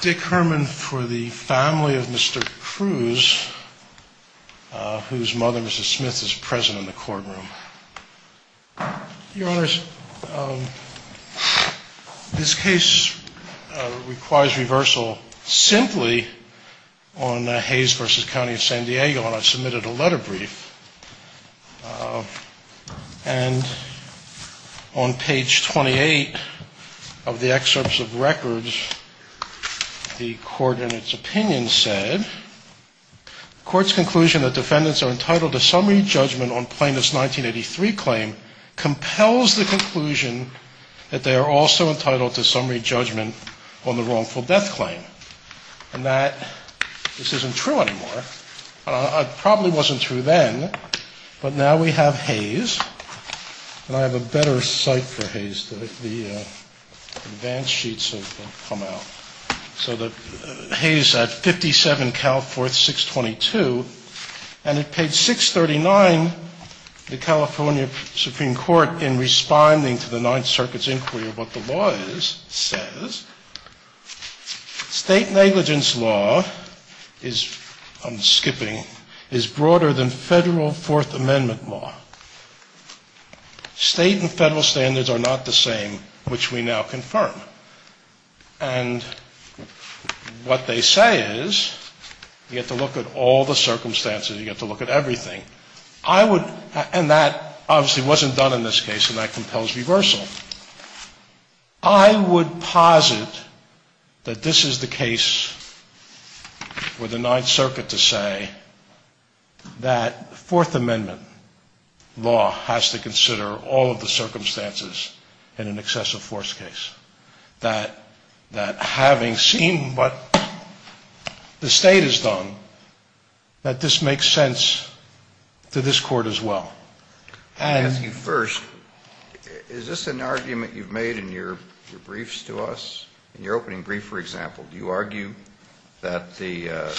Dick Herman for the family of Mr. Cruz, whose mother, Mrs. Smith, is present in the courtroom. Your Honors, this case requires reversal simply on Hayes v. County of San Diego, and I've submitted a letter brief. And on page 28 of the excerpts of records, the court in its opinion said, the court's conclusion that defendants are entitled to summary judgment on plaintiff's 1983 claim compels the conclusion that they are also entitled to summary judgment on the wrongful death claim. And that this isn't true anymore. It probably wasn't true then, but now we have Hayes. And I have a better cite for Hayes. The advance sheets have come out. So the Hayes at 57 Calforth 622, and at page 639, the California Supreme Court, in responding to the Ninth Circuit's inquiry of what the law is, says, state negligence law is, I'm skipping, is broader than Federal Fourth Amendment law. State and Federal standards are not the same, which we now confirm. And what they say is, you have to look at all the circumstances, you have to look at everything. I would, and that obviously wasn't done in this case, and that compels reversal. I would posit that this is the case for the Ninth Circuit to say that Fourth Amendment law has to consider all of the circumstances in an excessive force case. That having seen what the State has done, that this makes sense to this Court as well. I'll ask you first, is this an argument you've made in your briefs to us, in your opening brief, for example? Do you argue that the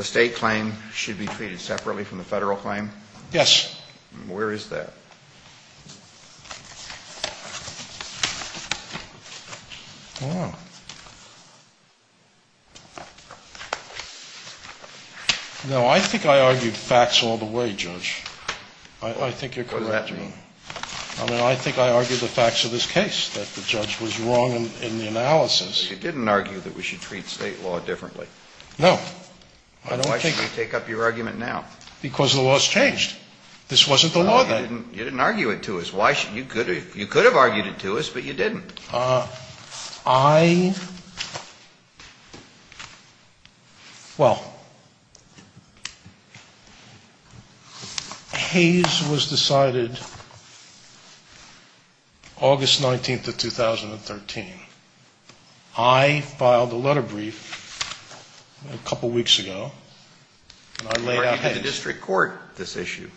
State claim should be treated separately from the Federal claim? Yes. Where is that? No, I think I argued facts all the way, Judge. I think you're correct. What does that mean? I mean, I think I argued the facts of this case, that the judge was wrong in the analysis. You didn't argue that we should treat State law differently. No. Then why should we take up your argument now? Because the law has changed. This wasn't the law then. No, you didn't argue it to us. You could have argued it to us, but you didn't. I — well, Hayes was decided August 19th of 2013. I filed a letter brief a couple weeks ago, and I laid out Hayes. You're arguing to the district court this issue.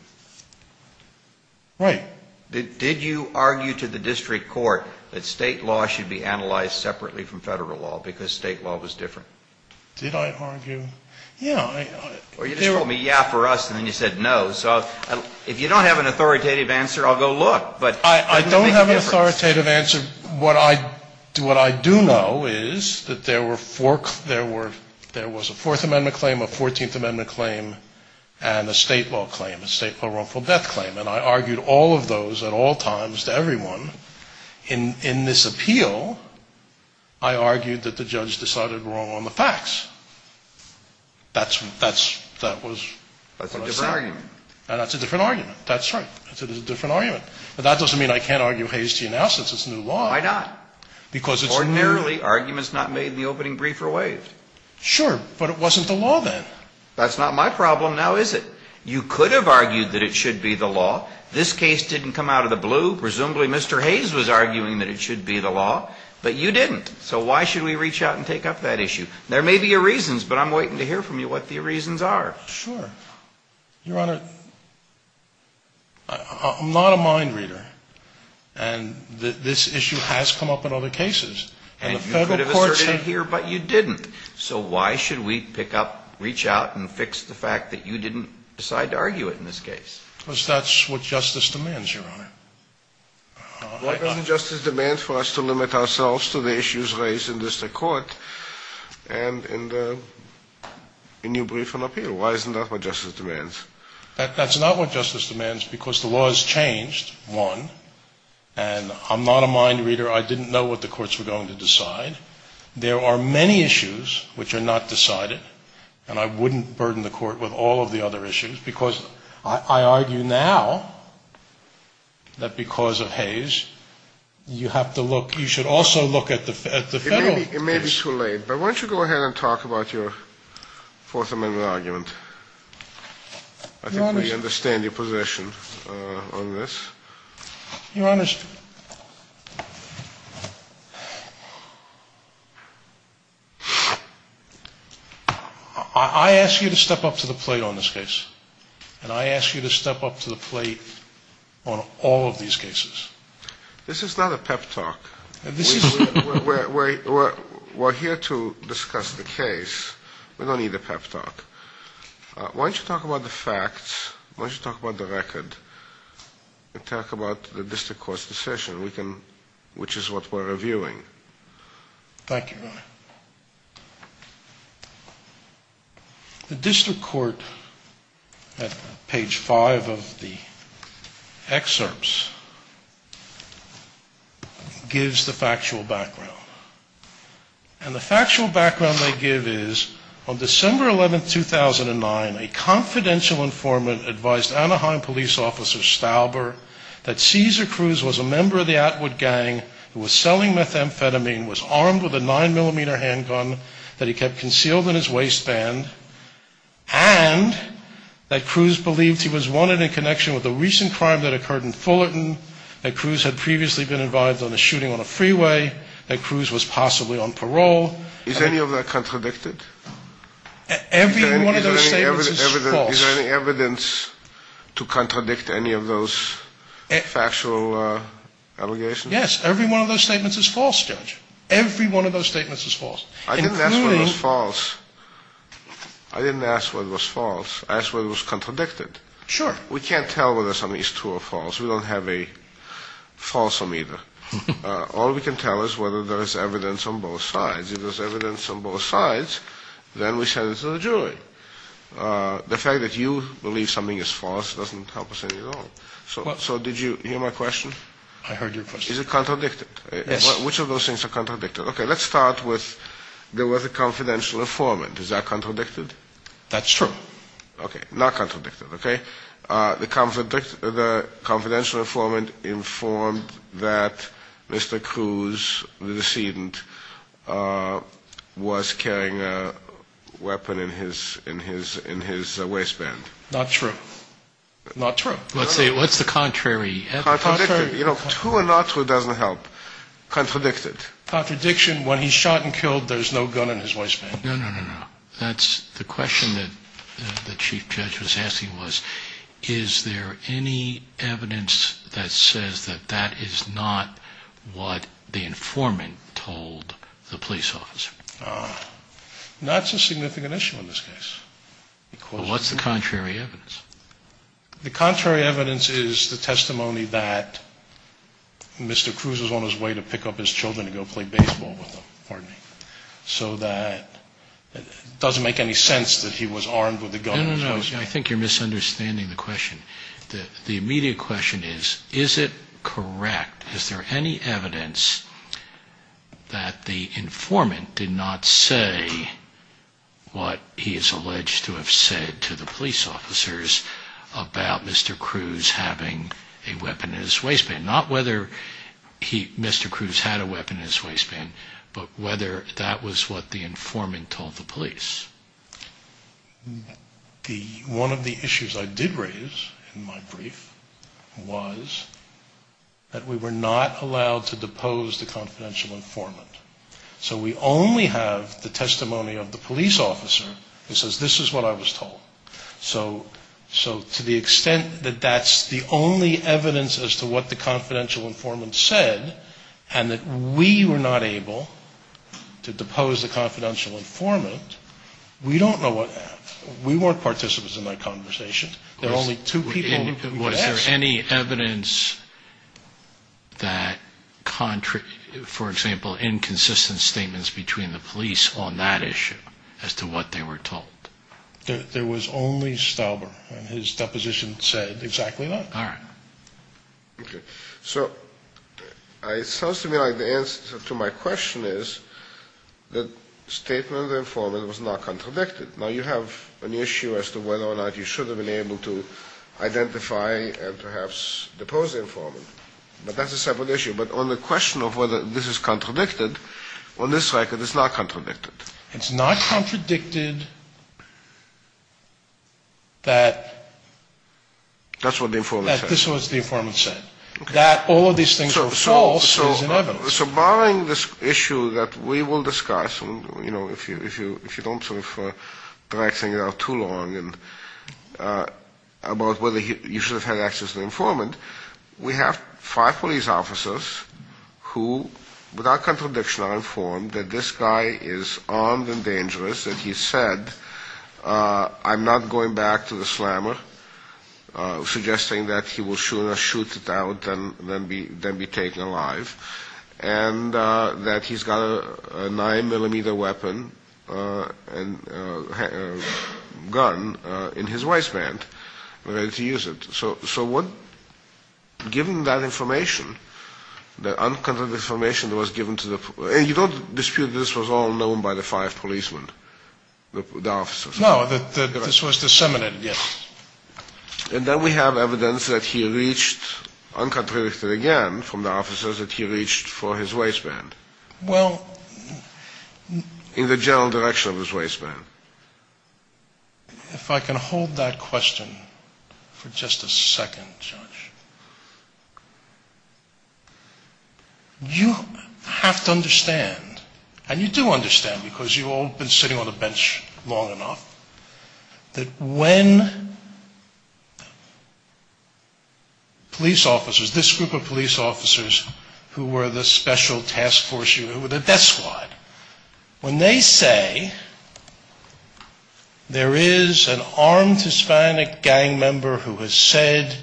Right. Did you argue to the district court that State law should be analyzed separately from Federal law because State law was different? Did I argue? Yeah. Or you just told me, yeah, for us, and then you said no. So if you don't have an authoritative answer, I'll go look. I don't have an authoritative answer. What I do know is that there were four — there was a Fourth Amendment claim, a Fourteenth Amendment claim, and a State law claim, a State law wrongful death claim, and I argued all of those at all times to everyone. In this appeal, I argued that the judge decided wrong on the facts. That's what I said. That's a different argument. That's a different argument. That's right. That's a different argument. But that doesn't mean I can't argue Hayes T. now since it's new law. Why not? Because it's new. Ordinarily, arguments not made in the opening brief are waived. Sure, but it wasn't the law then. That's not my problem. Now is it? You could have argued that it should be the law. This case didn't come out of the blue. Presumably Mr. Hayes was arguing that it should be the law. But you didn't. So why should we reach out and take up that issue? There may be a reason, but I'm waiting to hear from you what the reasons are. Sure. Your Honor, I'm not a mind reader. And this issue has come up in other cases. And the Federal courts have. And you could have asserted it here, but you didn't. So why should we pick up, reach out, and fix the fact that you didn't decide to argue it in this case? Because that's what justice demands, Your Honor. Why doesn't justice demand for us to limit ourselves to the issues raised in district court and in the new brief on appeal? Why isn't that what justice demands? That's not what justice demands because the law has changed, one. And I'm not a mind reader. I didn't know what the courts were going to decide. There are many issues which are not decided. And I wouldn't burden the court with all of the other issues because I argue now that because of Hayes, you have to look. You should also look at the Federal case. It may be too late, but why don't you go ahead and talk about your Fourth Amendment argument? I think we understand your position on this. Your Honor, I ask you to step up to the plate on this case, and I ask you to step up to the plate on all of these cases. This is not a pep talk. We're here to discuss the case. We don't need a pep talk. Why don't you talk about the facts? Why don't you talk about the record and talk about the district court's decision, which is what we're reviewing? Thank you, Your Honor. The district court, at page five of the excerpts, gives the factual background. And the factual background they give is, on December 11, 2009, a confidential informant advised Anaheim police officer Stauber that Cesar Cruz was a member of the Atwood gang who was selling methamphetamine, was armed with a 9mm handgun that he kept concealed in his waistband, and that Cruz believed he was wanted in connection with a recent crime that occurred in Fullerton, that Cruz had previously been involved in a shooting on a freeway, that Cruz was possibly on parole. Is any of that contradicted? Every one of those statements is false. Is there any evidence to contradict any of those factual allegations? Yes, every one of those statements is false, Judge. Every one of those statements is false. I didn't ask whether it was false. I didn't ask whether it was false. I asked whether it was contradicted. Sure. We can't tell whether something is true or false. We don't have a false meter. All we can tell is whether there is evidence on both sides. If there's evidence on both sides, then we send it to the jury. The fact that you believe something is false doesn't help us at all. So did you hear my question? I heard your question. Is it contradicted? Yes. Which of those things are contradicted? Okay, let's start with there was a confidential informant. Is that contradicted? That's true. Okay, not contradicted, okay? The confidential informant informed that Mr. Cruz, the decedent, was carrying a weapon in his waistband. Not true. Not true. What's the contrary? Contradicted. You know, true and not true doesn't help. Contradicted. Contradiction, when he's shot and killed, there's no gun in his waistband. No, no, no, no. That's the question that the chief judge was asking was, is there any evidence that says that that is not what the informant told the police officer? That's a significant issue in this case. What's the contrary evidence? The contrary evidence is the testimony that Mr. Cruz was on his way to pick up his children So that it doesn't make any sense that he was armed with a gun. No, no, no. I think you're misunderstanding the question. The immediate question is, is it correct? Is there any evidence that the informant did not say what he is alleged to have said to the police officers about Mr. Cruz having a weapon in his waistband? Not whether Mr. Cruz had a weapon in his waistband, but whether that was what the informant told the police. One of the issues I did raise in my brief was that we were not allowed to depose the confidential informant. So we only have the testimony of the police officer that says, this is what I was told. So to the extent that that's the only evidence as to what the confidential informant said, and that we were not able to depose the confidential informant, we don't know what happened. We weren't participants in that conversation. There were only two people. Was there any evidence that, for example, inconsistent statements between the police on that issue as to what they were told? There was only Stauber, and his deposition said exactly that. All right. Okay. So it sounds to me like the answer to my question is that statement of the informant was not contradicted. Now, you have an issue as to whether or not you should have been able to identify and perhaps depose the informant. But that's a separate issue. But on the question of whether this is contradicted, on this record, it's not contradicted. It's not contradicted that... That's what the informant said. ...that this was what the informant said. That all of these things are false is inevitable. So barring this issue that we will discuss, you know, if you don't sort of drag things out too long, about whether you should have had access to the informant, we have five police officers who, without contradiction, are informed that this guy is armed and dangerous, that he said, I'm not going back to the slammer, suggesting that he will sooner shoot it out than be taken alive, and that he's got a 9-millimeter weapon and gun in his waistband and ready to use it. So given that information, the uncontradicted information that was given to the... And you don't dispute that this was all known by the five policemen, the officers? No, that this was disseminated, yes. And then we have evidence that he reached, uncontradicted again from the officers, that he reached for his waistband. Well... In the general direction of his waistband. If I can hold that question for just a second, Judge. You have to understand, and you do understand, because you've all been sitting on a bench long enough, that when police officers, this group of police officers who were the special task force unit, when they say there is an armed Hispanic gang member who has said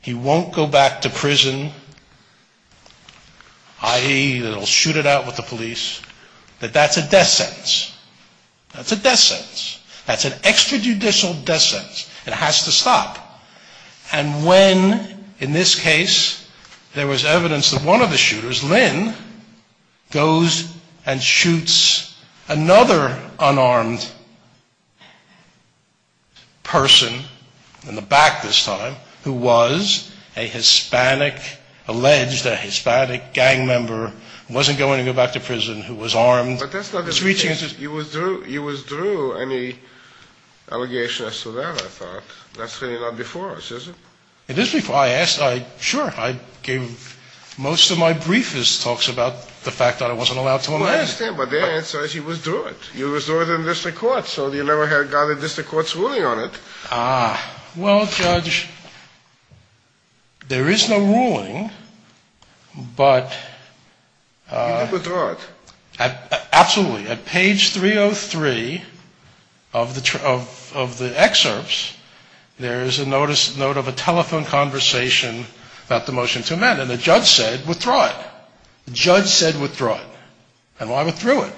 he won't go back to prison, i.e. that he'll shoot it out with the police, that that's a death sentence. That's a death sentence. That's an extrajudicial death sentence. It has to stop. And when, in this case, there was evidence that one of the shooters, Lynn, goes and shoots another unarmed person, in the back this time, who was a Hispanic, alleged a Hispanic gang member, wasn't going to go back to prison, who was armed... You withdrew any allegation as to that, I thought. That's really not before us, is it? It is before us. I asked. Sure, I gave most of my briefest talks about the fact that I wasn't allowed to amend it. Well, I understand, but the answer is you withdrew it. You withdrew it in district court, so you never had gotten district court's ruling on it. Ah. Well, Judge, there is no ruling, but... You withdrew it. Absolutely. At page 303 of the excerpts, there is a note of a telephone conversation about the motion to amend, and the judge said, withdraw it. The judge said, withdraw it. And I withdrew it.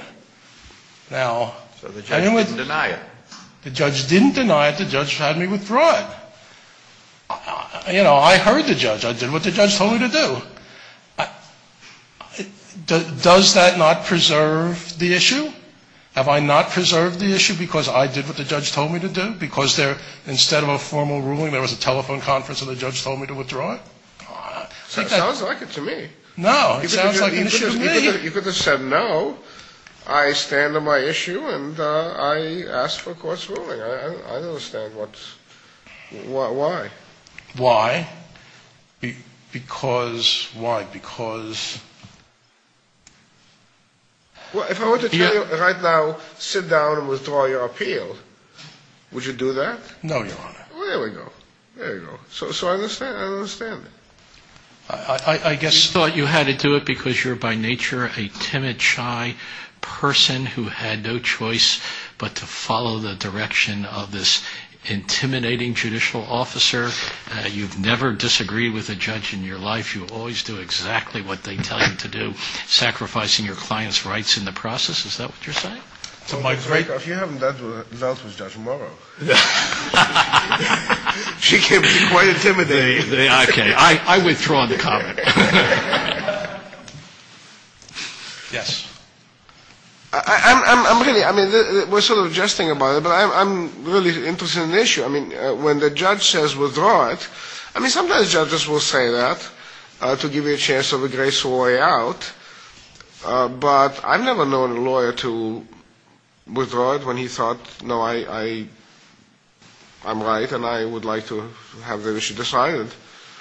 So the judge didn't deny it. The judge didn't deny it. The judge had me withdraw it. You know, I heard the judge. I did what the judge told me to do. Does that not preserve the issue? Have I not preserved the issue because I did what the judge told me to do? Because instead of a formal ruling, there was a telephone conference and the judge told me to withdraw it? It sounds like it to me. No, it sounds like an issue to me. You could have said, no, I stand on my issue and I ask for court's ruling. I understand what's... Why? Why? Because... Why? Because... Well, if I were to tell you right now, sit down and withdraw your appeal, would you do that? No, Your Honor. Well, there we go. There we go. So I understand it. I guess you thought you had to do it because you're by nature a timid, shy person who had no choice but to follow the direction of this intimidating judicial officer. You've never disagreed with a judge in your life. You always do exactly what they tell you to do, sacrificing your client's rights in the process. Is that what you're saying? If you haven't dealt with Judge Morrow, she can be quite intimidating. Okay. I withdraw the comment. Yes. I'm really... I mean, we're sort of jesting about it, but I'm really interested in the issue. I mean, when the judge says withdraw it, I mean, sometimes judges will say that to give you a chance of a graceful way out, but I've never known a lawyer to withdraw it when he thought, no, I'm right and I would like to have the issue decided.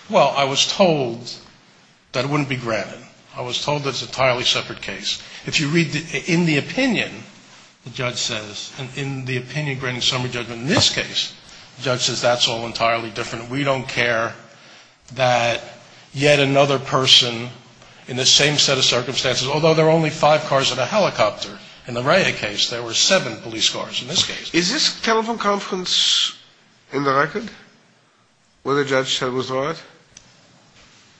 Well, I was told that it wouldn't be granted. I was told that it's an entirely separate case. If you read in the opinion, the judge says, in the opinion granting summary judgment in this case, the judge says that's all entirely different. We don't care that yet another person in the same set of circumstances, although there are only five cars and a helicopter, in the Rea case there were seven police cars in this case. Is this telephone conference in the record where the judge said withdraw it?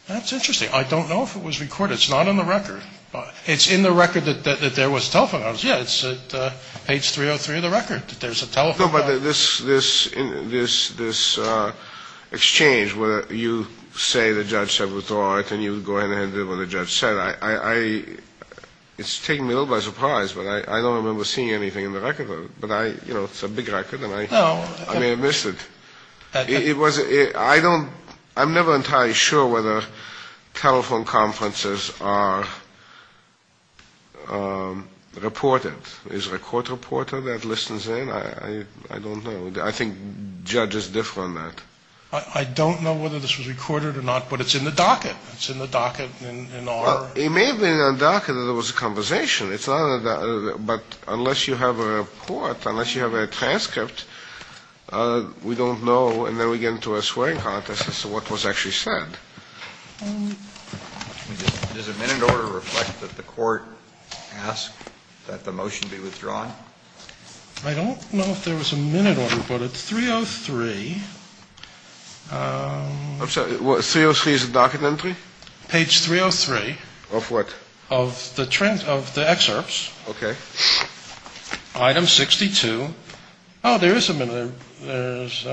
That's interesting. I don't know if it was recorded. It's not in the record. It's in the record that there was a telephone conference. Yeah, it's at page 303 of the record that there's a telephone conference. No, but this exchange where you say the judge said withdraw it and you go ahead and do what the judge said, it's taken me a little by surprise, but I don't remember seeing anything in the record. But, you know, it's a big record and I may have missed it. I'm never entirely sure whether telephone conferences are reported. Is a court reporter that listens in? I don't know. I think judges differ on that. I don't know whether this was recorded or not, but it's in the docket. It's in the docket in R. It may have been in the docket that there was a conversation, but unless you have a report, unless you have a transcript, we don't know. And then we get into a swearing contest as to what was actually said. Does a minute order reflect that the court asked that the motion be withdrawn? I don't know if there was a minute order, but at 303. 303 is a docket entry? Page 303. Of what? Of the excerpts. Okay. Item 62. Oh, there is a minute. There's a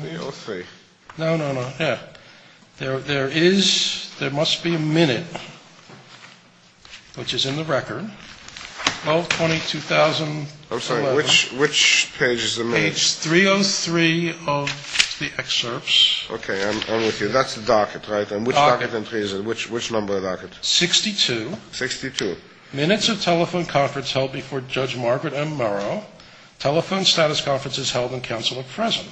minute. 303. No, no, no. Yeah. There is, there must be a minute, which is in the record. 12-20-2011. I'm sorry. Which page is the minute? Page 303 of the excerpts. Okay. I'm with you. That's the docket, right? And which docket entry is it? Which number docket? 62. 62. Minutes of telephone conference held before Judge Margaret M. Murrow. Telephone status conference is held in council at present.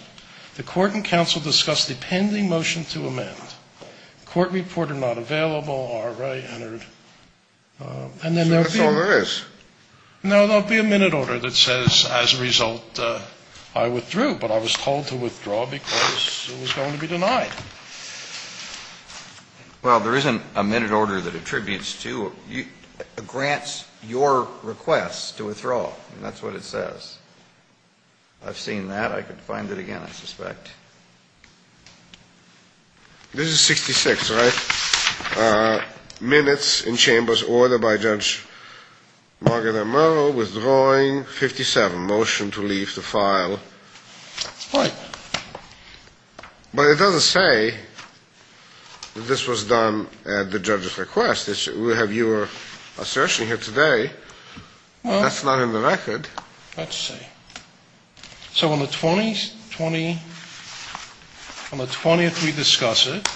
The court and council discuss the pending motion to amend. Court report are not available. R.A. entered. So that's all there is. No, there will be a minute order that says, as a result, I withdrew. But I was told to withdraw because it was going to be denied. Well, there isn't a minute order that attributes to or grants your request to withdraw, and that's what it says. I've seen that. I could find it again, I suspect. This is 66, right? Minutes in chamber's order by Judge Margaret M. Murrow, withdrawing 57. Motion to leave the file. Right. But it doesn't say that this was done at the judge's request. We have your assertion here today. That's not in the record. Let's see. So on the 20th we discuss it.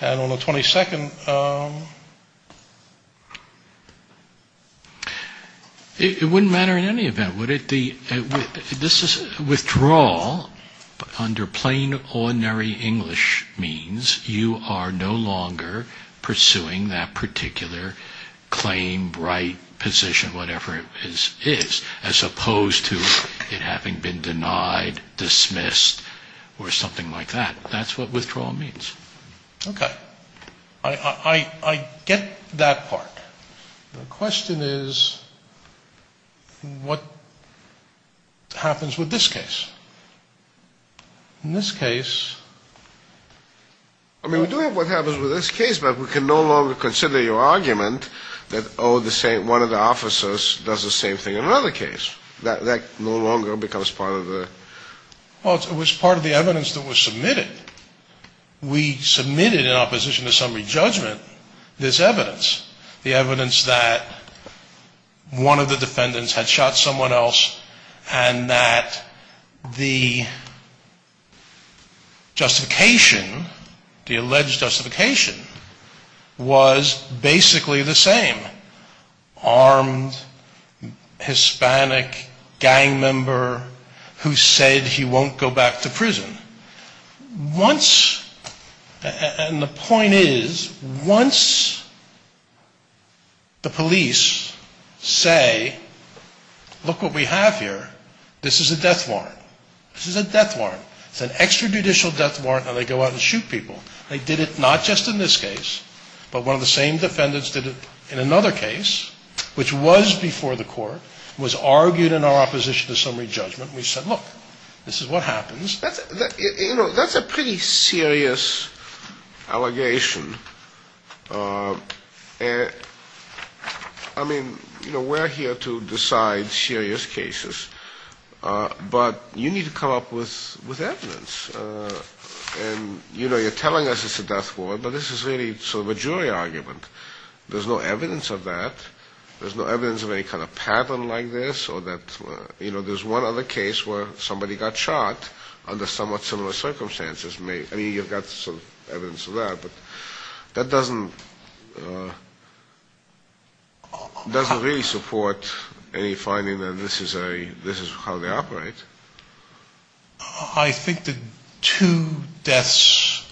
And on the 22nd. It wouldn't matter in any event, would it? Withdrawal under plain, ordinary English means you are no longer pursuing that particular claim, right, position, whatever it is, as opposed to it having been denied, dismissed, or something like that. That's what withdrawal means. Okay. I get that part. The question is, what happens with this case? In this case. I mean, we do have what happens with this case, but we can no longer consider your argument that, oh, one of the officers does the same thing in another case. That no longer becomes part of the. We submitted in opposition to summary judgment this evidence. The evidence that one of the defendants had shot someone else and that the justification, the alleged justification was basically the same. Armed Hispanic gang member who said he won't go back to prison. Once, and the point is, once the police say, look what we have here, this is a death warrant. This is a death warrant. It's an extrajudicial death warrant and they go out and shoot people. They did it not just in this case, but one of the same defendants did it in another case, which was before the court, was argued in our opposition to summary judgment. We said, look, this is what happens. You know, that's a pretty serious allegation. I mean, you know, we're here to decide serious cases, but you need to come up with evidence. And, you know, you're telling us it's a death warrant, but this is really sort of a jury argument. There's no evidence of that. There's no evidence of any kind of pattern like this or that, you know, there's one other case where somebody got shot under somewhat similar circumstances. I mean, you've got some evidence of that, but that doesn't really support any finding that this is how they operate. I think the two deaths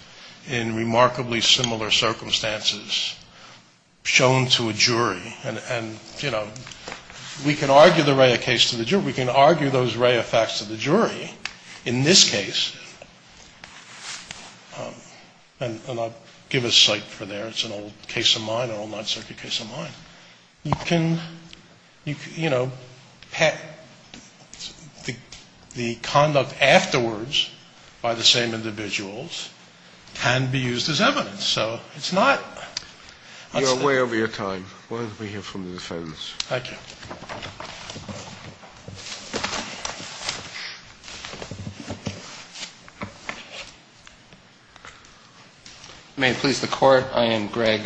in remarkably similar circumstances shown to a jury, and, you know, we can argue the Raya case to the jury. We can argue those Raya facts to the jury in this case, and I'll give a cite for there. It's an old case of mine, an old Ninth Circuit case of mine. You can, you know, the conduct afterwards by the same individuals can be used as evidence. So it's not. You're way over your time. Why don't we hear from the defense? Thank you. May it please the Court? I am Greg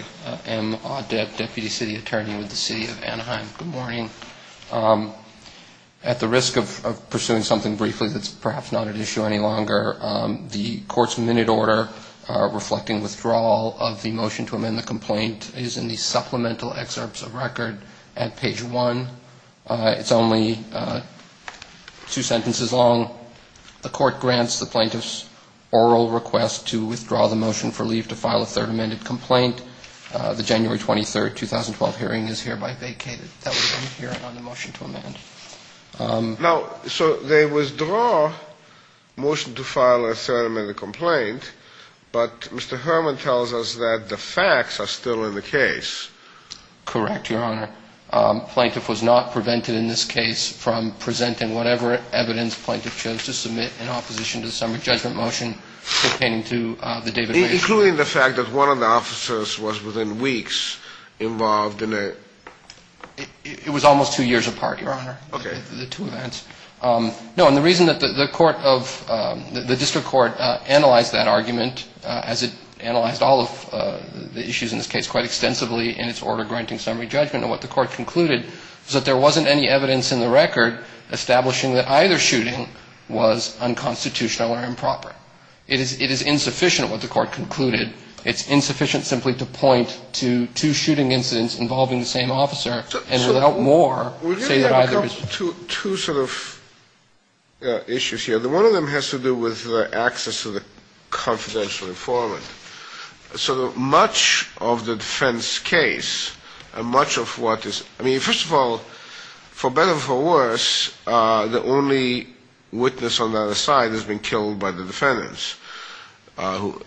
M. Audet, Deputy City Attorney with the City of Anaheim. Good morning. At the risk of pursuing something briefly that's perhaps not at issue any longer, the Court's minute order reflecting withdrawal of the motion to amend the complaint is in the supplemental excerpts of record at page 1. It's only two sentences long. The Court grants the plaintiff's oral request to withdraw the motion for leave to file a third amended complaint. The January 23, 2012, hearing is hereby vacated. That was in the hearing on the motion to amend. Now, so they withdraw motion to file a third amended complaint, but Mr. Herman tells us that the facts are still in the case. Correct, Your Honor. Plaintiff was not prevented in this case from presenting whatever evidence plaintiff chose to submit in opposition to the summary judgment motion pertaining to the David Raich. Including the fact that one of the officers was within weeks involved in a. And the reason that the court of the district court analyzed that argument as it analyzed all of the issues in this case quite extensively in its order granting summary judgment and what the court concluded was that there wasn't any evidence in the record establishing that either shooting was unconstitutional or improper. It is insufficient what the court concluded. It's insufficient simply to point to two shooting incidents involving the same officer and without more say that either is true. Two sort of issues here. One of them has to do with the access to the confidential informant. So much of the defense case, much of what is, I mean, first of all, for better or for worse, the only witness on the other side has been killed by the defendants.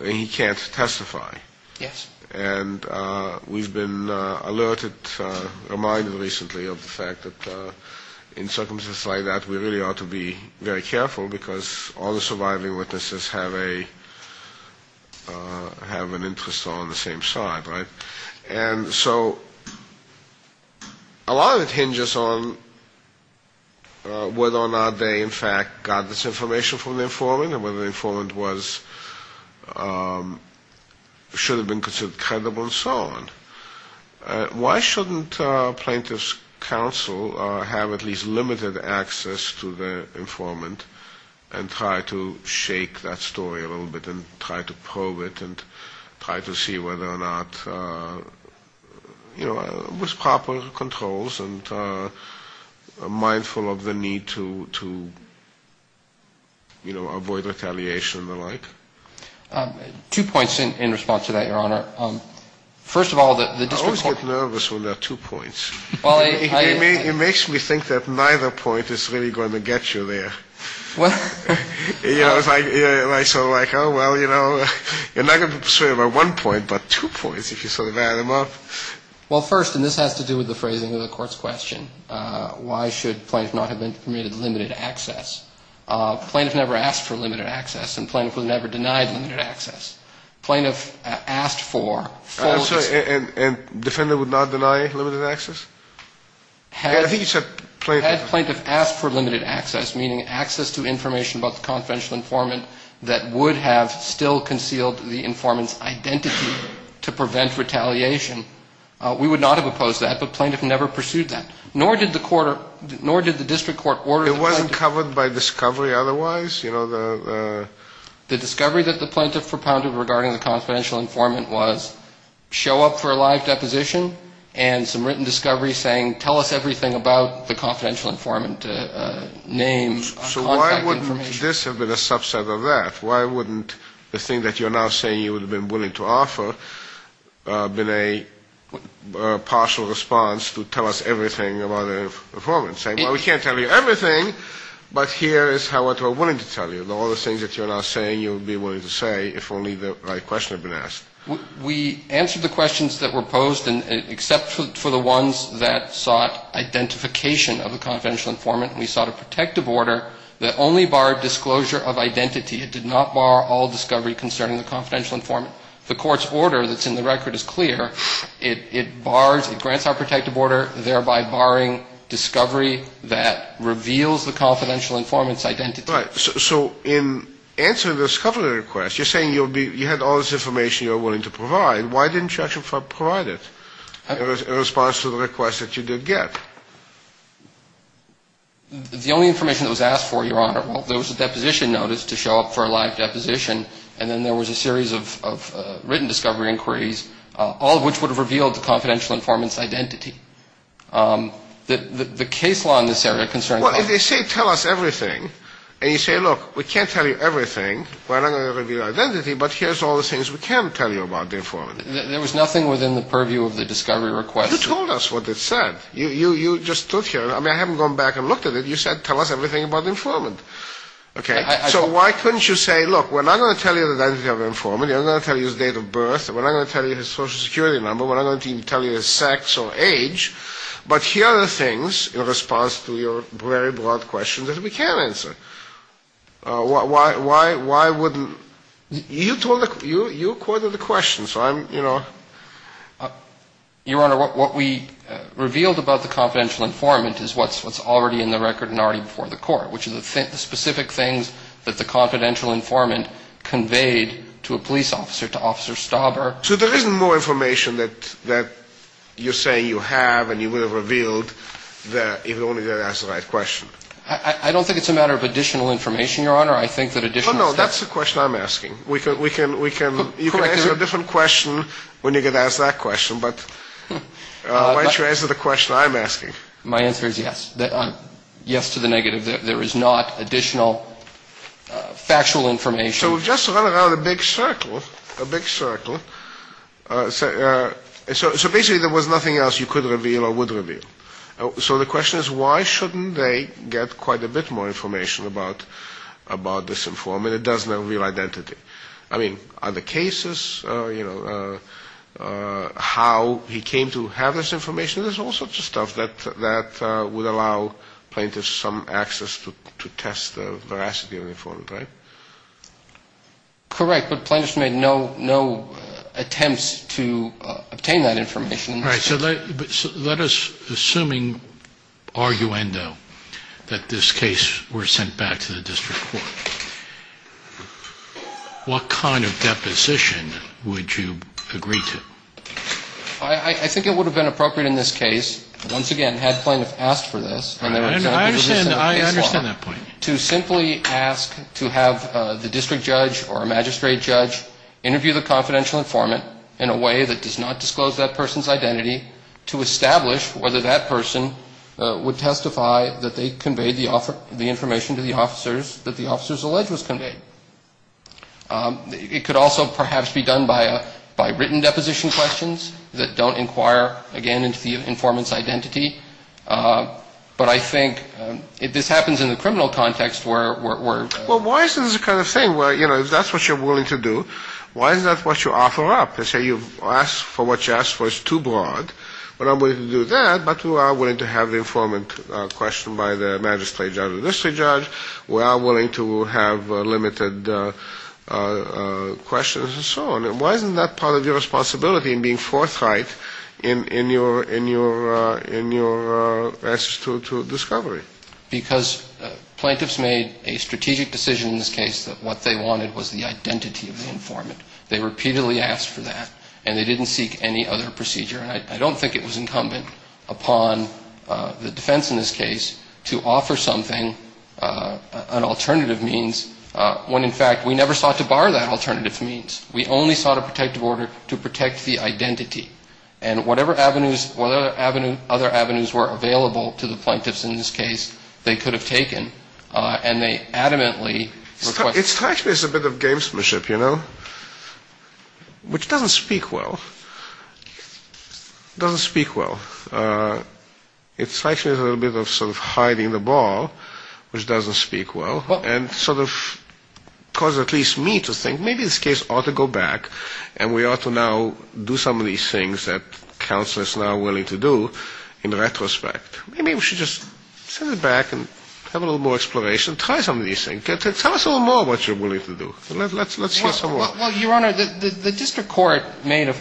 He can't testify. Yes. And we've been alerted, reminded recently of the fact that in circumstances like that, we really ought to be very careful, because all the surviving witnesses have an interest on the same side, right? And so a lot of it hinges on whether or not they, in fact, got this information from the informant and whether the informant was, should have been considered guilty. Why shouldn't plaintiff's counsel have at least limited access to the informant and try to shake that story a little bit and try to probe it and try to see whether or not, you know, with proper controls and mindful of the need to, you know, avoid retaliation and the like? Two points in response to that, Your Honor. First of all, the district court... I always get nervous when there are two points. Well, I... It makes me think that neither point is really going to get you there. Well... You know, it's like, oh, well, you know, you're not going to be persuaded by one point, but two points, if you sort of add them up. Well, first, and this has to do with the phrasing of the Court's question, why should plaintiff not have been permitted limited access? Plaintiff never asked for limited access, and plaintiff was never denied limited access. Plaintiff asked for... I'm sorry, and defendant would not deny limited access? I think you said plaintiff... Had plaintiff asked for limited access, meaning access to information about the confidential informant that would have still concealed the informant's identity to prevent retaliation, we would not have opposed that, but plaintiff never pursued that. Nor did the court, nor did the district court order... It wasn't covered by discovery otherwise? You know, the... The discovery that the plaintiff propounded regarding the confidential informant was show up for a live deposition and some written discovery saying tell us everything about the confidential informant, names, contact information. So why wouldn't this have been a subset of that? Why wouldn't the thing that you're now saying you would have been willing to offer been a partial response to tell us everything about the informant, saying, well, we can't tell you everything, but here is what we're willing to tell you, all the things that you're now saying you would be willing to say if only the right question had been asked? We answered the questions that were posed, except for the ones that sought identification of the confidential informant. We sought a protective order that only barred disclosure of identity. It did not bar all discovery concerning the confidential informant. The court's order that's in the record is clear. It bars, it grants our protective order, thereby barring discovery that reveals the confidential informant's identity. Right. So in answering the discovery request, you're saying you had all this information you were willing to provide. Why didn't you actually provide it in response to the request that you did get? The only information that was asked for, Your Honor, well, there was a deposition notice to show up for a live deposition, and then there was a series of written discovery inquiries, all of which would have revealed the confidential informant's identity. The case law in this area concerns that. Well, if they say tell us everything, and you say, look, we can't tell you everything, we're not going to reveal your identity, but here's all the things we can tell you about the informant. There was nothing within the purview of the discovery request. You told us what it said. You just stood here. I mean, I haven't gone back and looked at it. You said tell us everything about the informant. Okay. So why couldn't you say, look, we're not going to tell you the identity of the informant. We're not going to tell you his date of birth. We're not going to tell you his Social Security number. We're not going to tell you his sex or age. But here are the things in response to your very broad questions that we can answer. Why wouldn't you tell the – you accorded the questions, so I'm, you know. Your Honor, what we revealed about the confidential informant is what's already in the record and already before the court, which is the specific things that the confidential informant conveyed to a police officer, to Officer Stauber. So there isn't more information that you're saying you have and you would have revealed if only you had asked the right question. I don't think it's a matter of additional information, Your Honor. I think that additional stuff – No, no, that's the question I'm asking. We can – you can answer a different question when you get asked that question, but why don't you answer the question I'm asking? My answer is yes. Yes to the negative. There is not additional factual information. So we've just run around a big circle, a big circle. So basically there was nothing else you could reveal or would reveal. So the question is why shouldn't they get quite a bit more information about this informant? It doesn't have a real identity. I mean, are there cases, you know, how he came to have this information? There's all sorts of stuff that would allow plaintiffs some access to test the veracity of the informant, right? Correct, but plaintiffs made no attempts to obtain that information. All right, so let us – assuming arguendo that this case were sent back to the district court, what kind of deposition would you agree to? I think it would have been appropriate in this case, once again, had plaintiffs asked for this. I understand that point. To simply ask to have the district judge or magistrate judge interview the confidential informant in a way that does not disclose that person's identity to establish whether that person would testify that they conveyed the information to the officers that the officers alleged was conveyed. It could also perhaps be done by written deposition questions that don't inquire, again, into the informant's identity. But I think if this happens in the criminal context, we're – Well, why is this the kind of thing where, you know, if that's what you're willing to do, why is that what you offer up? Let's say you've asked for what you asked for. It's too broad. We're not willing to do that, but we are willing to have the informant questioned by the magistrate judge or district judge. We are willing to have limited questions and so on. And why isn't that part of your responsibility in being forthright in your answers to discovery? Because plaintiffs made a strategic decision in this case that what they wanted was the identity of the informant. They repeatedly asked for that, and they didn't seek any other procedure. And I don't think it was incumbent upon the defense in this case to offer something, an alternative means, when, in fact, we never sought to bar that alternative means. We only sought a protective order to protect the identity. And whatever avenues – whatever avenues – other avenues were available to the plaintiffs in this case, they could have taken. And they adamantly – It's actually a bit of gamesmanship, you know, which doesn't speak well. It's actually a little bit of sort of hiding the ball, which doesn't speak well, and sort of causes at least me to think maybe this case ought to go back, and we ought to now do some of these things that counsel is now willing to do in retrospect. Maybe we should just send it back and have a little more exploration, try some of these things. Tell us a little more what you're willing to do. Let's hear some more. Well, Your Honor, the district court made a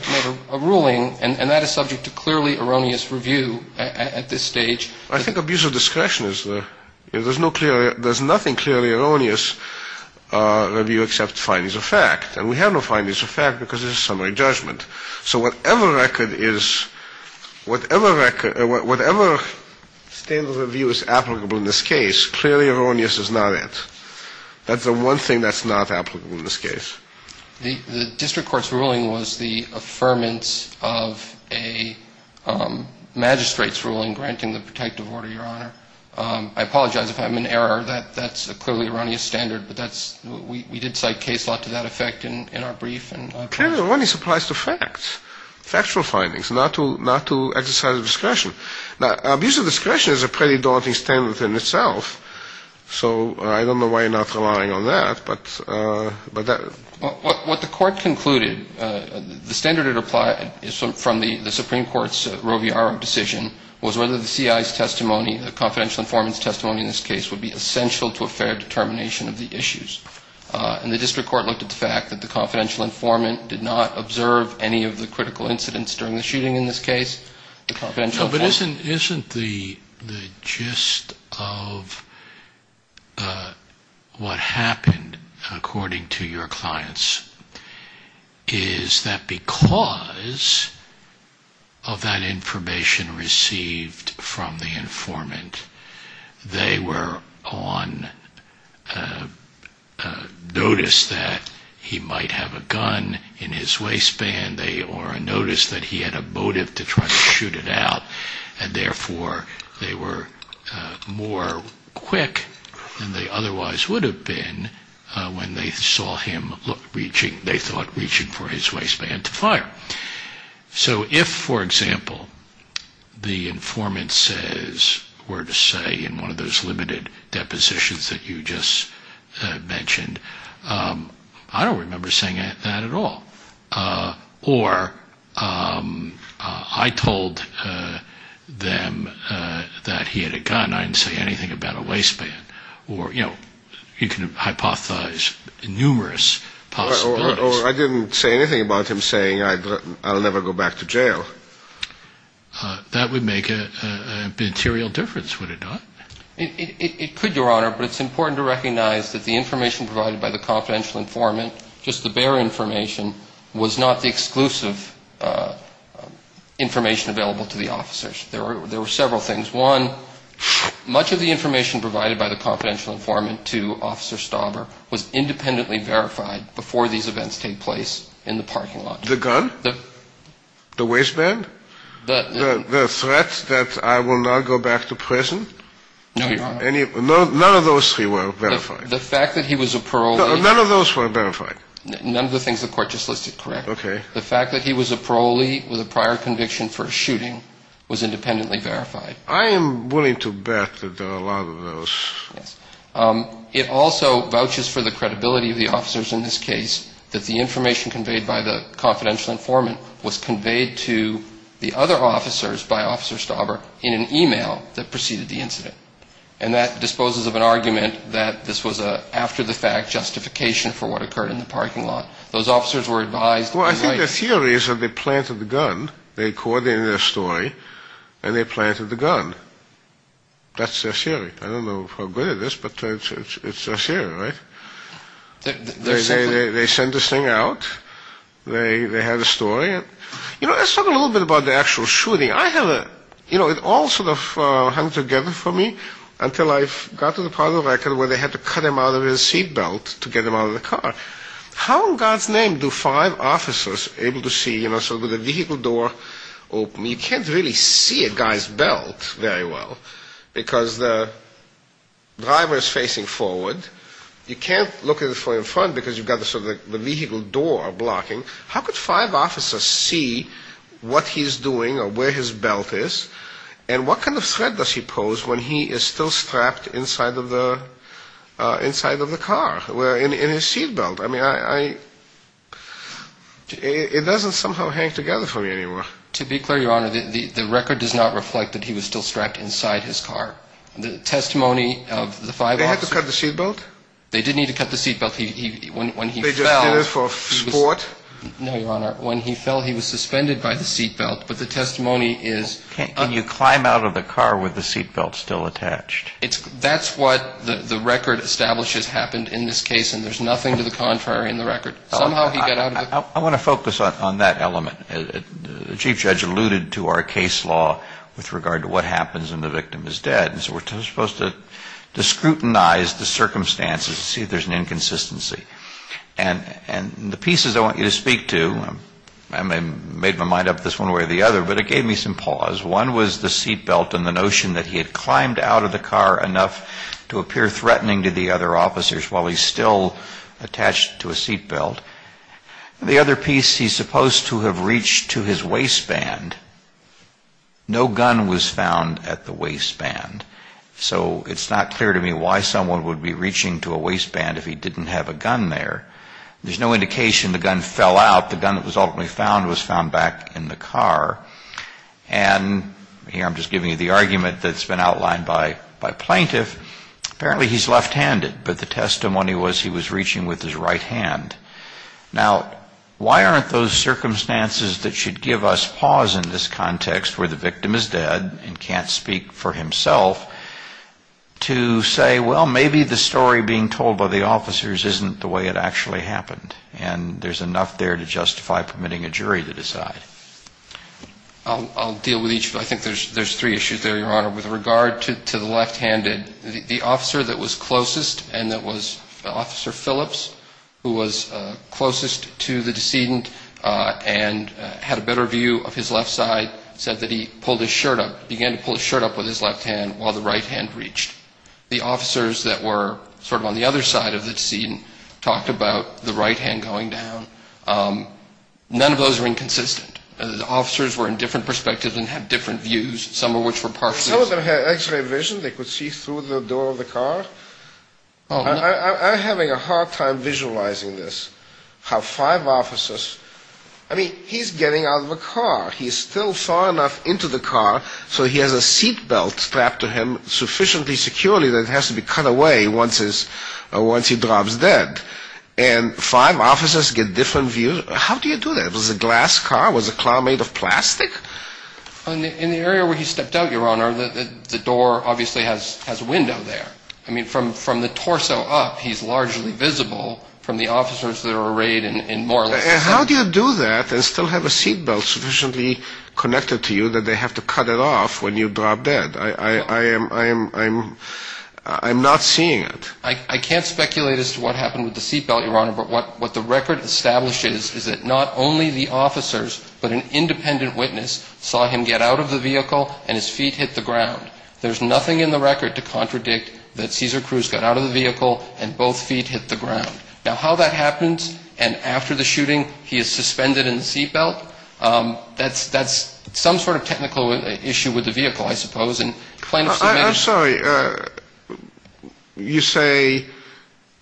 ruling, and that is subject to clearly erroneous review at this stage. I think abuse of discretion is – there's no clear – there's nothing clearly erroneous review except findings of fact. And we have no findings of fact because it's a summary judgment. So whatever record is – whatever record – whatever standard of review is applicable in this case, clearly erroneous is not it. That's the one thing that's not applicable in this case. The district court's ruling was the affirmance of a magistrate's ruling granting the protective order, Your Honor. I apologize if I'm in error. That's a clearly erroneous standard, but that's – we did cite case law to that effect in our brief. Clearly, erroneous applies to facts, factual findings, not to exercise of discretion. Now, abuse of discretion is a pretty daunting standard in itself, so I don't know why you're not relying on that. But that – What the court concluded, the standard it applied from the Supreme Court's Roviaro decision was whether the CIA's testimony, the confidential informant's testimony in this case, would be essential to a fair determination of the issues. And the district court looked at the fact that the confidential informant did not observe any of the critical incidents during the shooting in this case. But isn't the gist of what happened, according to your clients, is that because of that information received from the informant, they were on notice that he might have a gun in his waistband, or a notice that he had a motive to try to shoot it out, and therefore they were more quick than they otherwise would have been when they saw him, they thought, reaching for his waistband to fire. So if, for example, the informant says, were to say in one of those limited depositions that you just mentioned, I don't remember saying that at all. Or I told them that he had a gun, I didn't say anything about a waistband. Or, you know, you can hypothesize numerous possibilities. Or I didn't say anything about him saying I'll never go back to jail. That would make a material difference, would it not? It could, Your Honor, but it's important to recognize that the information provided by the confidential informant, just the bare information, was not the exclusive information available to the officers. There were several things. One, much of the information provided by the confidential informant to Officer Stauber was independently verified before these events take place in the parking lot. The gun? The waistband? The threat that I will not go back to prison? No, Your Honor. None of those three were verified? The fact that he was a parolee. None of those were verified? None of the things the court just listed correct. Okay. The fact that he was a parolee with a prior conviction for a shooting was independently verified. I am willing to bet that there are a lot of those. Yes. It also vouches for the credibility of the officers in this case that the information conveyed by the confidential informant was conveyed to the other officers by Officer Stauber in an e-mail that preceded the incident. And that disposes of an argument that this was a, after the fact, justification for what occurred in the parking lot. Those officers were advised to be right. Well, I think the theory is that they planted the gun, they coordinated their story, and they planted the gun. That's their theory. I don't know how good it is, but it's their theory, right? They sent this thing out. They had a story. You know, let's talk a little bit about the actual shooting. I have a, you know, it all sort of hung together for me until I got to the part of the record where they had to cut him out of his seat belt to get him out of the car. How in God's name do five officers able to see, you know, sort of the vehicle door open? You can't really see a guy's belt very well, because the driver is facing forward. You can't look at it from in front because you've got sort of the vehicle door blocking. How could five officers see what he's doing or where his belt is? And what kind of threat does he pose when he is still strapped inside of the car, in his seat belt? I mean, it doesn't somehow hang together for me anymore. To be clear, Your Honor, the record does not reflect that he was still strapped inside his car. The testimony of the five officers. They had to cut the seat belt? They did need to cut the seat belt. They just did it for sport? No, Your Honor. When he fell, he was suspended by the seat belt, but the testimony is... Can you climb out of the car with the seat belt still attached? That's what the record establishes happened in this case, and there's nothing to the contrary in the record. Somehow he got out of the car. I want to focus on that element. The Chief Judge alluded to our case law with regard to what happens when the victim is dead, and so we're supposed to scrutinize the circumstances to see if there's an inconsistency. And the pieces I want you to speak to, I made my mind up this one way or the other, but it gave me some pause. One was the seat belt and the notion that he had climbed out of the car enough to appear threatening to the other officers while he's still attached to a seat belt. The other piece, he's supposed to have reached to his waistband. No gun was found at the waistband, so it's not clear to me why someone would be reaching to a waistband if he didn't have a gun there. There's no indication the gun fell out. The gun that was ultimately found was found back in the car. And here I'm just giving you the argument that's been outlined by plaintiff. Apparently he's left-handed, but the testimony was he was reaching with his right hand. Now, why aren't those circumstances that should give us pause in this context where the victim is dead and can't speak for himself to say, well, maybe the story being told by the officers isn't the way it actually happened, and there's enough there to justify permitting a jury to decide? I'll deal with each. I think there's three issues there, Your Honor. With regard to the left-handed, the officer that was closest and that was Officer Phillips, who was closest to the decedent and had a better view of his left side, said that he pulled his shirt up, began to pull his shirt up with his left hand while the right hand reached. The officers that were sort of on the other side of the scene talked about the right hand going down. None of those are inconsistent. The officers were in different perspectives and had different views, some of which were partial. Some of them had x-ray vision. They could see through the door of the car. I'm having a hard time visualizing this, how five officers, I mean, he's getting out of the car. He's still far enough into the car so he has a seat belt strapped to him sufficiently securely that it has to be cut away once he drops dead. And five officers get different views. How do you do that? Was it a glass car? Was the car made of plastic? In the area where he stepped out, Your Honor, the door obviously has a window there. I mean, from the torso up, he's largely visible from the officers that are arrayed in more or less the same way. And how do you do that and still have a seat belt sufficiently connected to you that they have to cut it off when you drop dead? I'm not seeing it. I can't speculate as to what happened with the seat belt, Your Honor, but what the record establishes is that not only the officers but an independent witness saw him get out of the vehicle and his feet hit the ground. There's nothing in the record to contradict that Cesar Cruz got out of the vehicle and both feet hit the ground. Now, how that happens and after the shooting he is suspended in the seat belt, that's some sort of technical issue with the vehicle, I suppose. I'm sorry. You say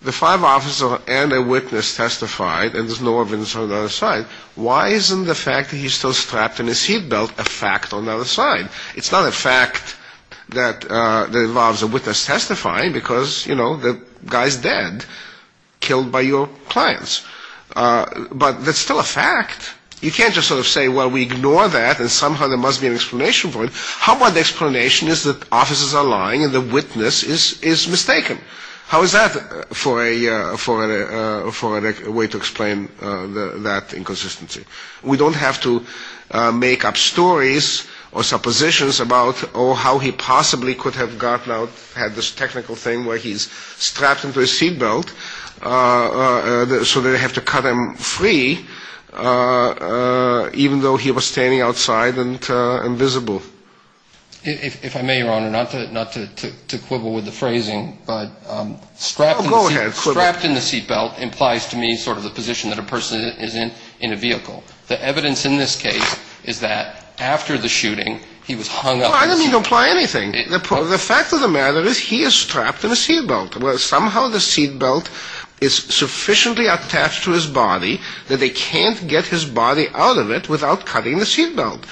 the five officers and a witness testified and there's no evidence on the other side. Why isn't the fact that he's still strapped in a seat belt a fact on the other side? It's not a fact that involves a witness testifying because, you know, the guy's dead, killed by your clients. But that's still a fact. You can't just sort of say, well, we ignore that and somehow there must be an explanation for it. How about the explanation is that officers are lying and the witness is mistaken? How is that for a way to explain that inconsistency? We don't have to make up stories or suppositions about, oh, how he possibly could have gotten out, had this technical thing where he's strapped into a seat belt so they have to cut him free even though he was standing outside and visible. If I may, Your Honor, not to quibble with the phrasing, but strapped in the seat belt implies to me sort of the position that a person is in in a vehicle. The evidence in this case is that after the shooting, he was hung up. I didn't mean to imply anything. The fact of the matter is he is strapped in a seat belt. Somehow the seat belt is sufficiently attached to his body that they can't get his body out of it without cutting the seat belt.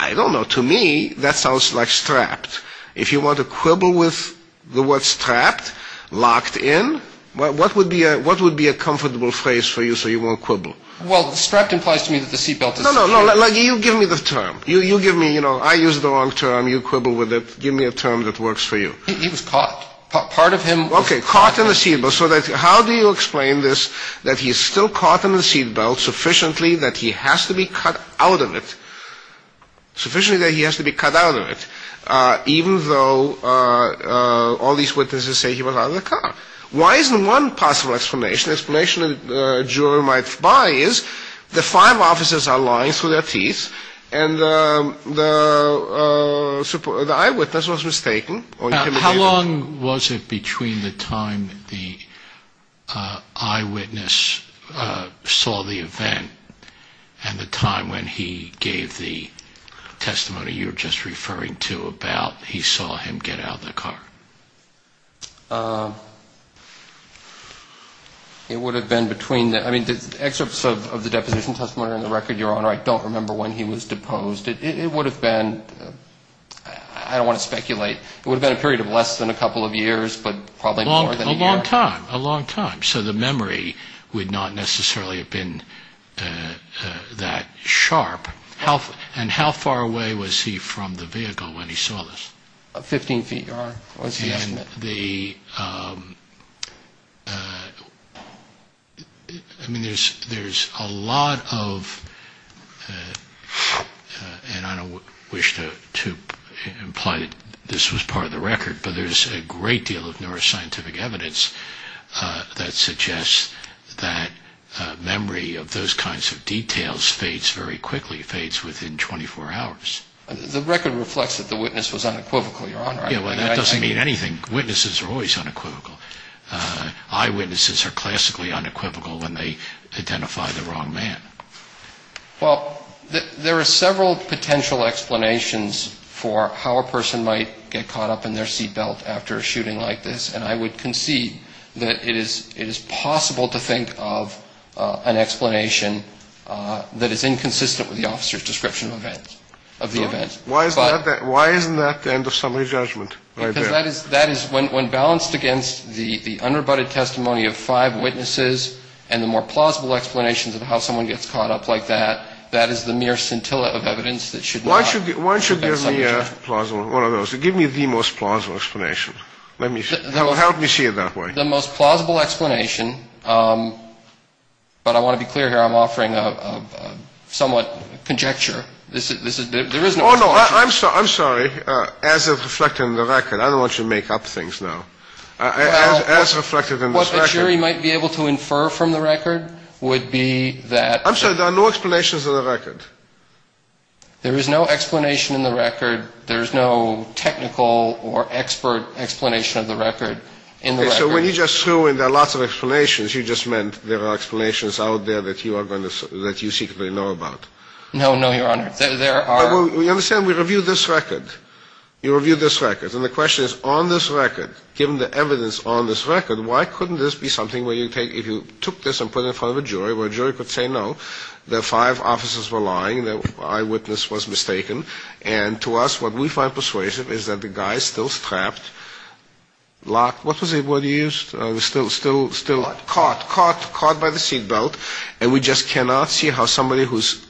I don't know. To me, that sounds like strapped. If you want to quibble with the word strapped, locked in, what would be a comfortable phrase for you so you won't quibble? Well, strapped implies to me that the seat belt is secure. No, no, no. You give me the term. You give me, you know, I use the wrong term. You quibble with it. Give me a term that works for you. He was caught. Part of him was caught. Okay, caught in the seat belt. So how do you explain this, that he's still caught in the seat belt sufficiently that he has to be cut out of it, even though all these witnesses say he was out of the car? Why isn't one possible explanation? The explanation a juror might buy is the five officers are lying through their teeth and the eyewitness was mistaken. How long was it between the time the eyewitness saw the event and the time when he gave the testimony you were just referring to about he saw him get out of the car? It would have been between the, I mean, the excerpts of the deposition testimony and the record, Your Honor, I don't remember when he was deposed. It would have been, I don't want to speculate. It would have been a period of less than a couple of years, but probably more than a year. A long time, a long time. So the memory would not necessarily have been that sharp. And how far away was he from the vehicle when he saw this? Fifteen feet, Your Honor. And the, I mean, there's a lot of, and I don't wish to imply that this was part of the record, but there's a great deal of neuroscientific evidence that suggests that memory of those kinds of details fades very quickly, fades within 24 hours. The record reflects that the witness was unequivocal, Your Honor. That doesn't mean anything. Witnesses are always unequivocal. Eyewitnesses are classically unequivocal when they identify the wrong man. Well, there are several potential explanations for how a person might get caught up in their seat belt after a shooting like this, and I would concede that it is possible to think of an explanation that is inconsistent with the officer's description of the event. Why isn't that the end of summary judgment right there? Because that is, when balanced against the unrebutted testimony of five witnesses and the more plausible explanations of how someone gets caught up like that, that is the mere scintilla of evidence that should not be a summary judgment. Why don't you give me a plausible, one of those, give me the most plausible explanation. Help me see it that way. The most plausible explanation, but I want to be clear here. I'm offering a somewhat conjecture. Oh, no, I'm sorry. As it's reflected in the record. I don't want you to make up things now. As reflected in this record. What the jury might be able to infer from the record would be that. I'm sorry, there are no explanations in the record. There is no explanation in the record. There is no technical or expert explanation of the record in the record. So when you just threw in there are lots of explanations, you just meant there are explanations out there that you are going to, that you secretly know about. No, no, Your Honor. There are. You understand, we reviewed this record. You reviewed this record. And the question is on this record, given the evidence on this record, why couldn't this be something where you take, if you took this and put it in front of a jury where a jury could say no, the five officers were lying, the eyewitness was mistaken. And to us what we find persuasive is that the guy is still strapped, locked, what was he used, still caught, caught by the seatbelt. And we just cannot see how somebody who is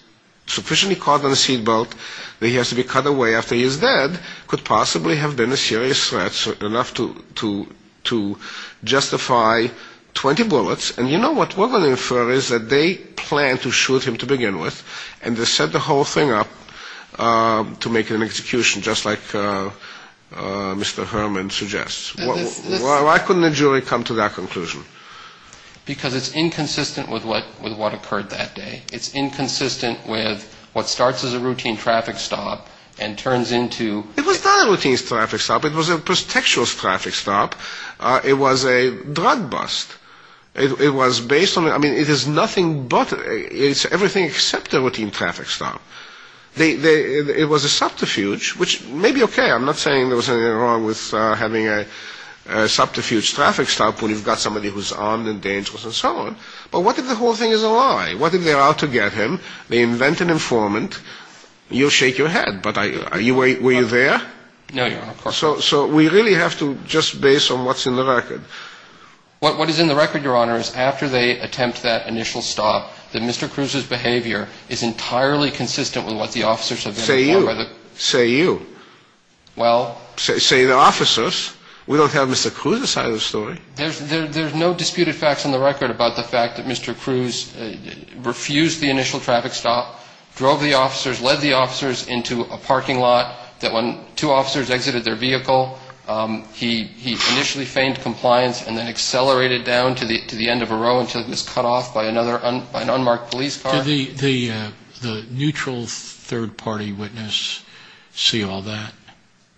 sufficiently caught by the seatbelt that he has to be cut away after he is dead could possibly have been a serious threat enough to justify 20 bullets. And you know what we're going to infer is that they planned to shoot him to begin with. And they set the whole thing up to make an execution just like Mr. Herman suggests. Why couldn't the jury come to that conclusion? Because it's inconsistent with what occurred that day. It's inconsistent with what starts as a routine traffic stop and turns into. It was not a routine traffic stop. It was a prestigious traffic stop. It was a drug bust. It was based on, I mean, it is nothing but, it's everything except a routine traffic stop. It was a subterfuge, which may be okay. I'm not saying there was anything wrong with having a subterfuge traffic stop when you've got somebody who's armed and dangerous and so on. But what if the whole thing is a lie? What if they're out to get him, they invent an informant, you'll shake your head. But were you there? No, Your Honor, of course not. So we really have to just base on what's in the record. What is in the record, Your Honor, is after they attempt that initial stop, that Mr. Cruz's behavior is entirely consistent with what the officers have been informed. Say you. Say you. Well. Say the officers. We don't have Mr. Cruz's side of the story. There's no disputed facts on the record about the fact that Mr. Cruz refused the initial traffic stop, drove the officers, led the officers into a parking lot, that when two officers exited their vehicle, he initially feigned compliance and then accelerated down to the end of a row until he was cut off by an unmarked police car. Did the neutral third-party witness see all that?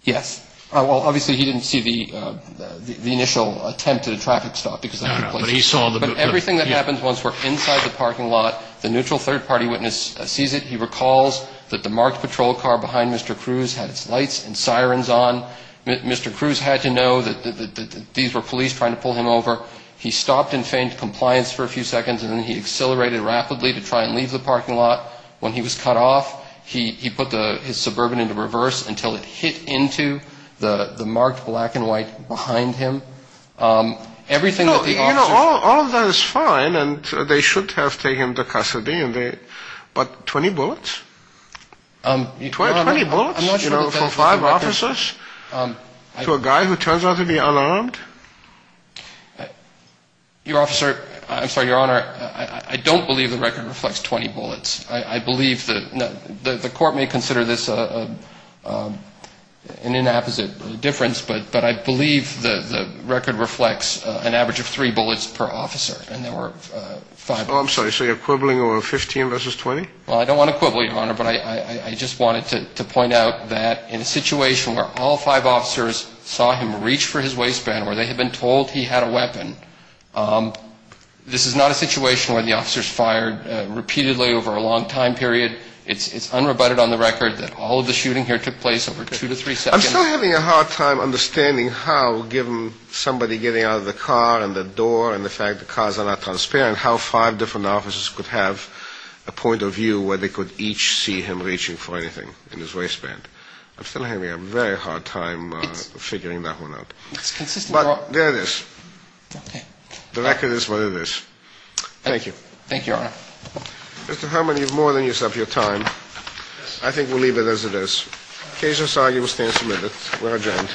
Yes. Well, obviously he didn't see the initial attempt at a traffic stop. No, no, but he saw the. But everything that happens once we're inside the parking lot, the neutral third-party witness sees it. He recalls that the marked patrol car behind Mr. Cruz had its lights and sirens on. Mr. Cruz had to know that these were police trying to pull him over. He stopped and feigned compliance for a few seconds, and then he accelerated rapidly to try and leave the parking lot. When he was cut off, he put his Suburban into reverse until it hit into the marked black and white behind him. Everything that the officers. You know, all of that is fine, and they should have taken the custody, but 20 bullets? 20 bullets? You know, for five officers to a guy who turns out to be unarmed? Your officer. I'm sorry, Your Honor. I don't believe the record reflects 20 bullets. I believe that the court may consider this an inapposite difference, but I believe the record reflects an average of three bullets per officer, and there were five. Oh, I'm sorry. So you're quibbling over 15 versus 20? Well, I don't want to quibble, Your Honor, but I just wanted to point out that in a situation where all five officers saw him reach for his waistband, where they had been told he had a weapon, this is not a situation where the officers fired repeatedly over a long time period. It's unrebutted on the record that all of the shooting here took place over two to three seconds. I'm still having a hard time understanding how, given somebody getting out of the car and the door and the fact the cars are not transparent, how five different officers could have a point of view where they could each see him reaching for anything in his waistband. I'm still having a very hard time figuring that one out. It's consistent. But there it is. The record is what it is. Thank you. Thank you, Your Honor. Mr. Herman, you've more than used up your time. I think we'll leave it as it is. Case is argued. We'll stay a minute. We're adjourned.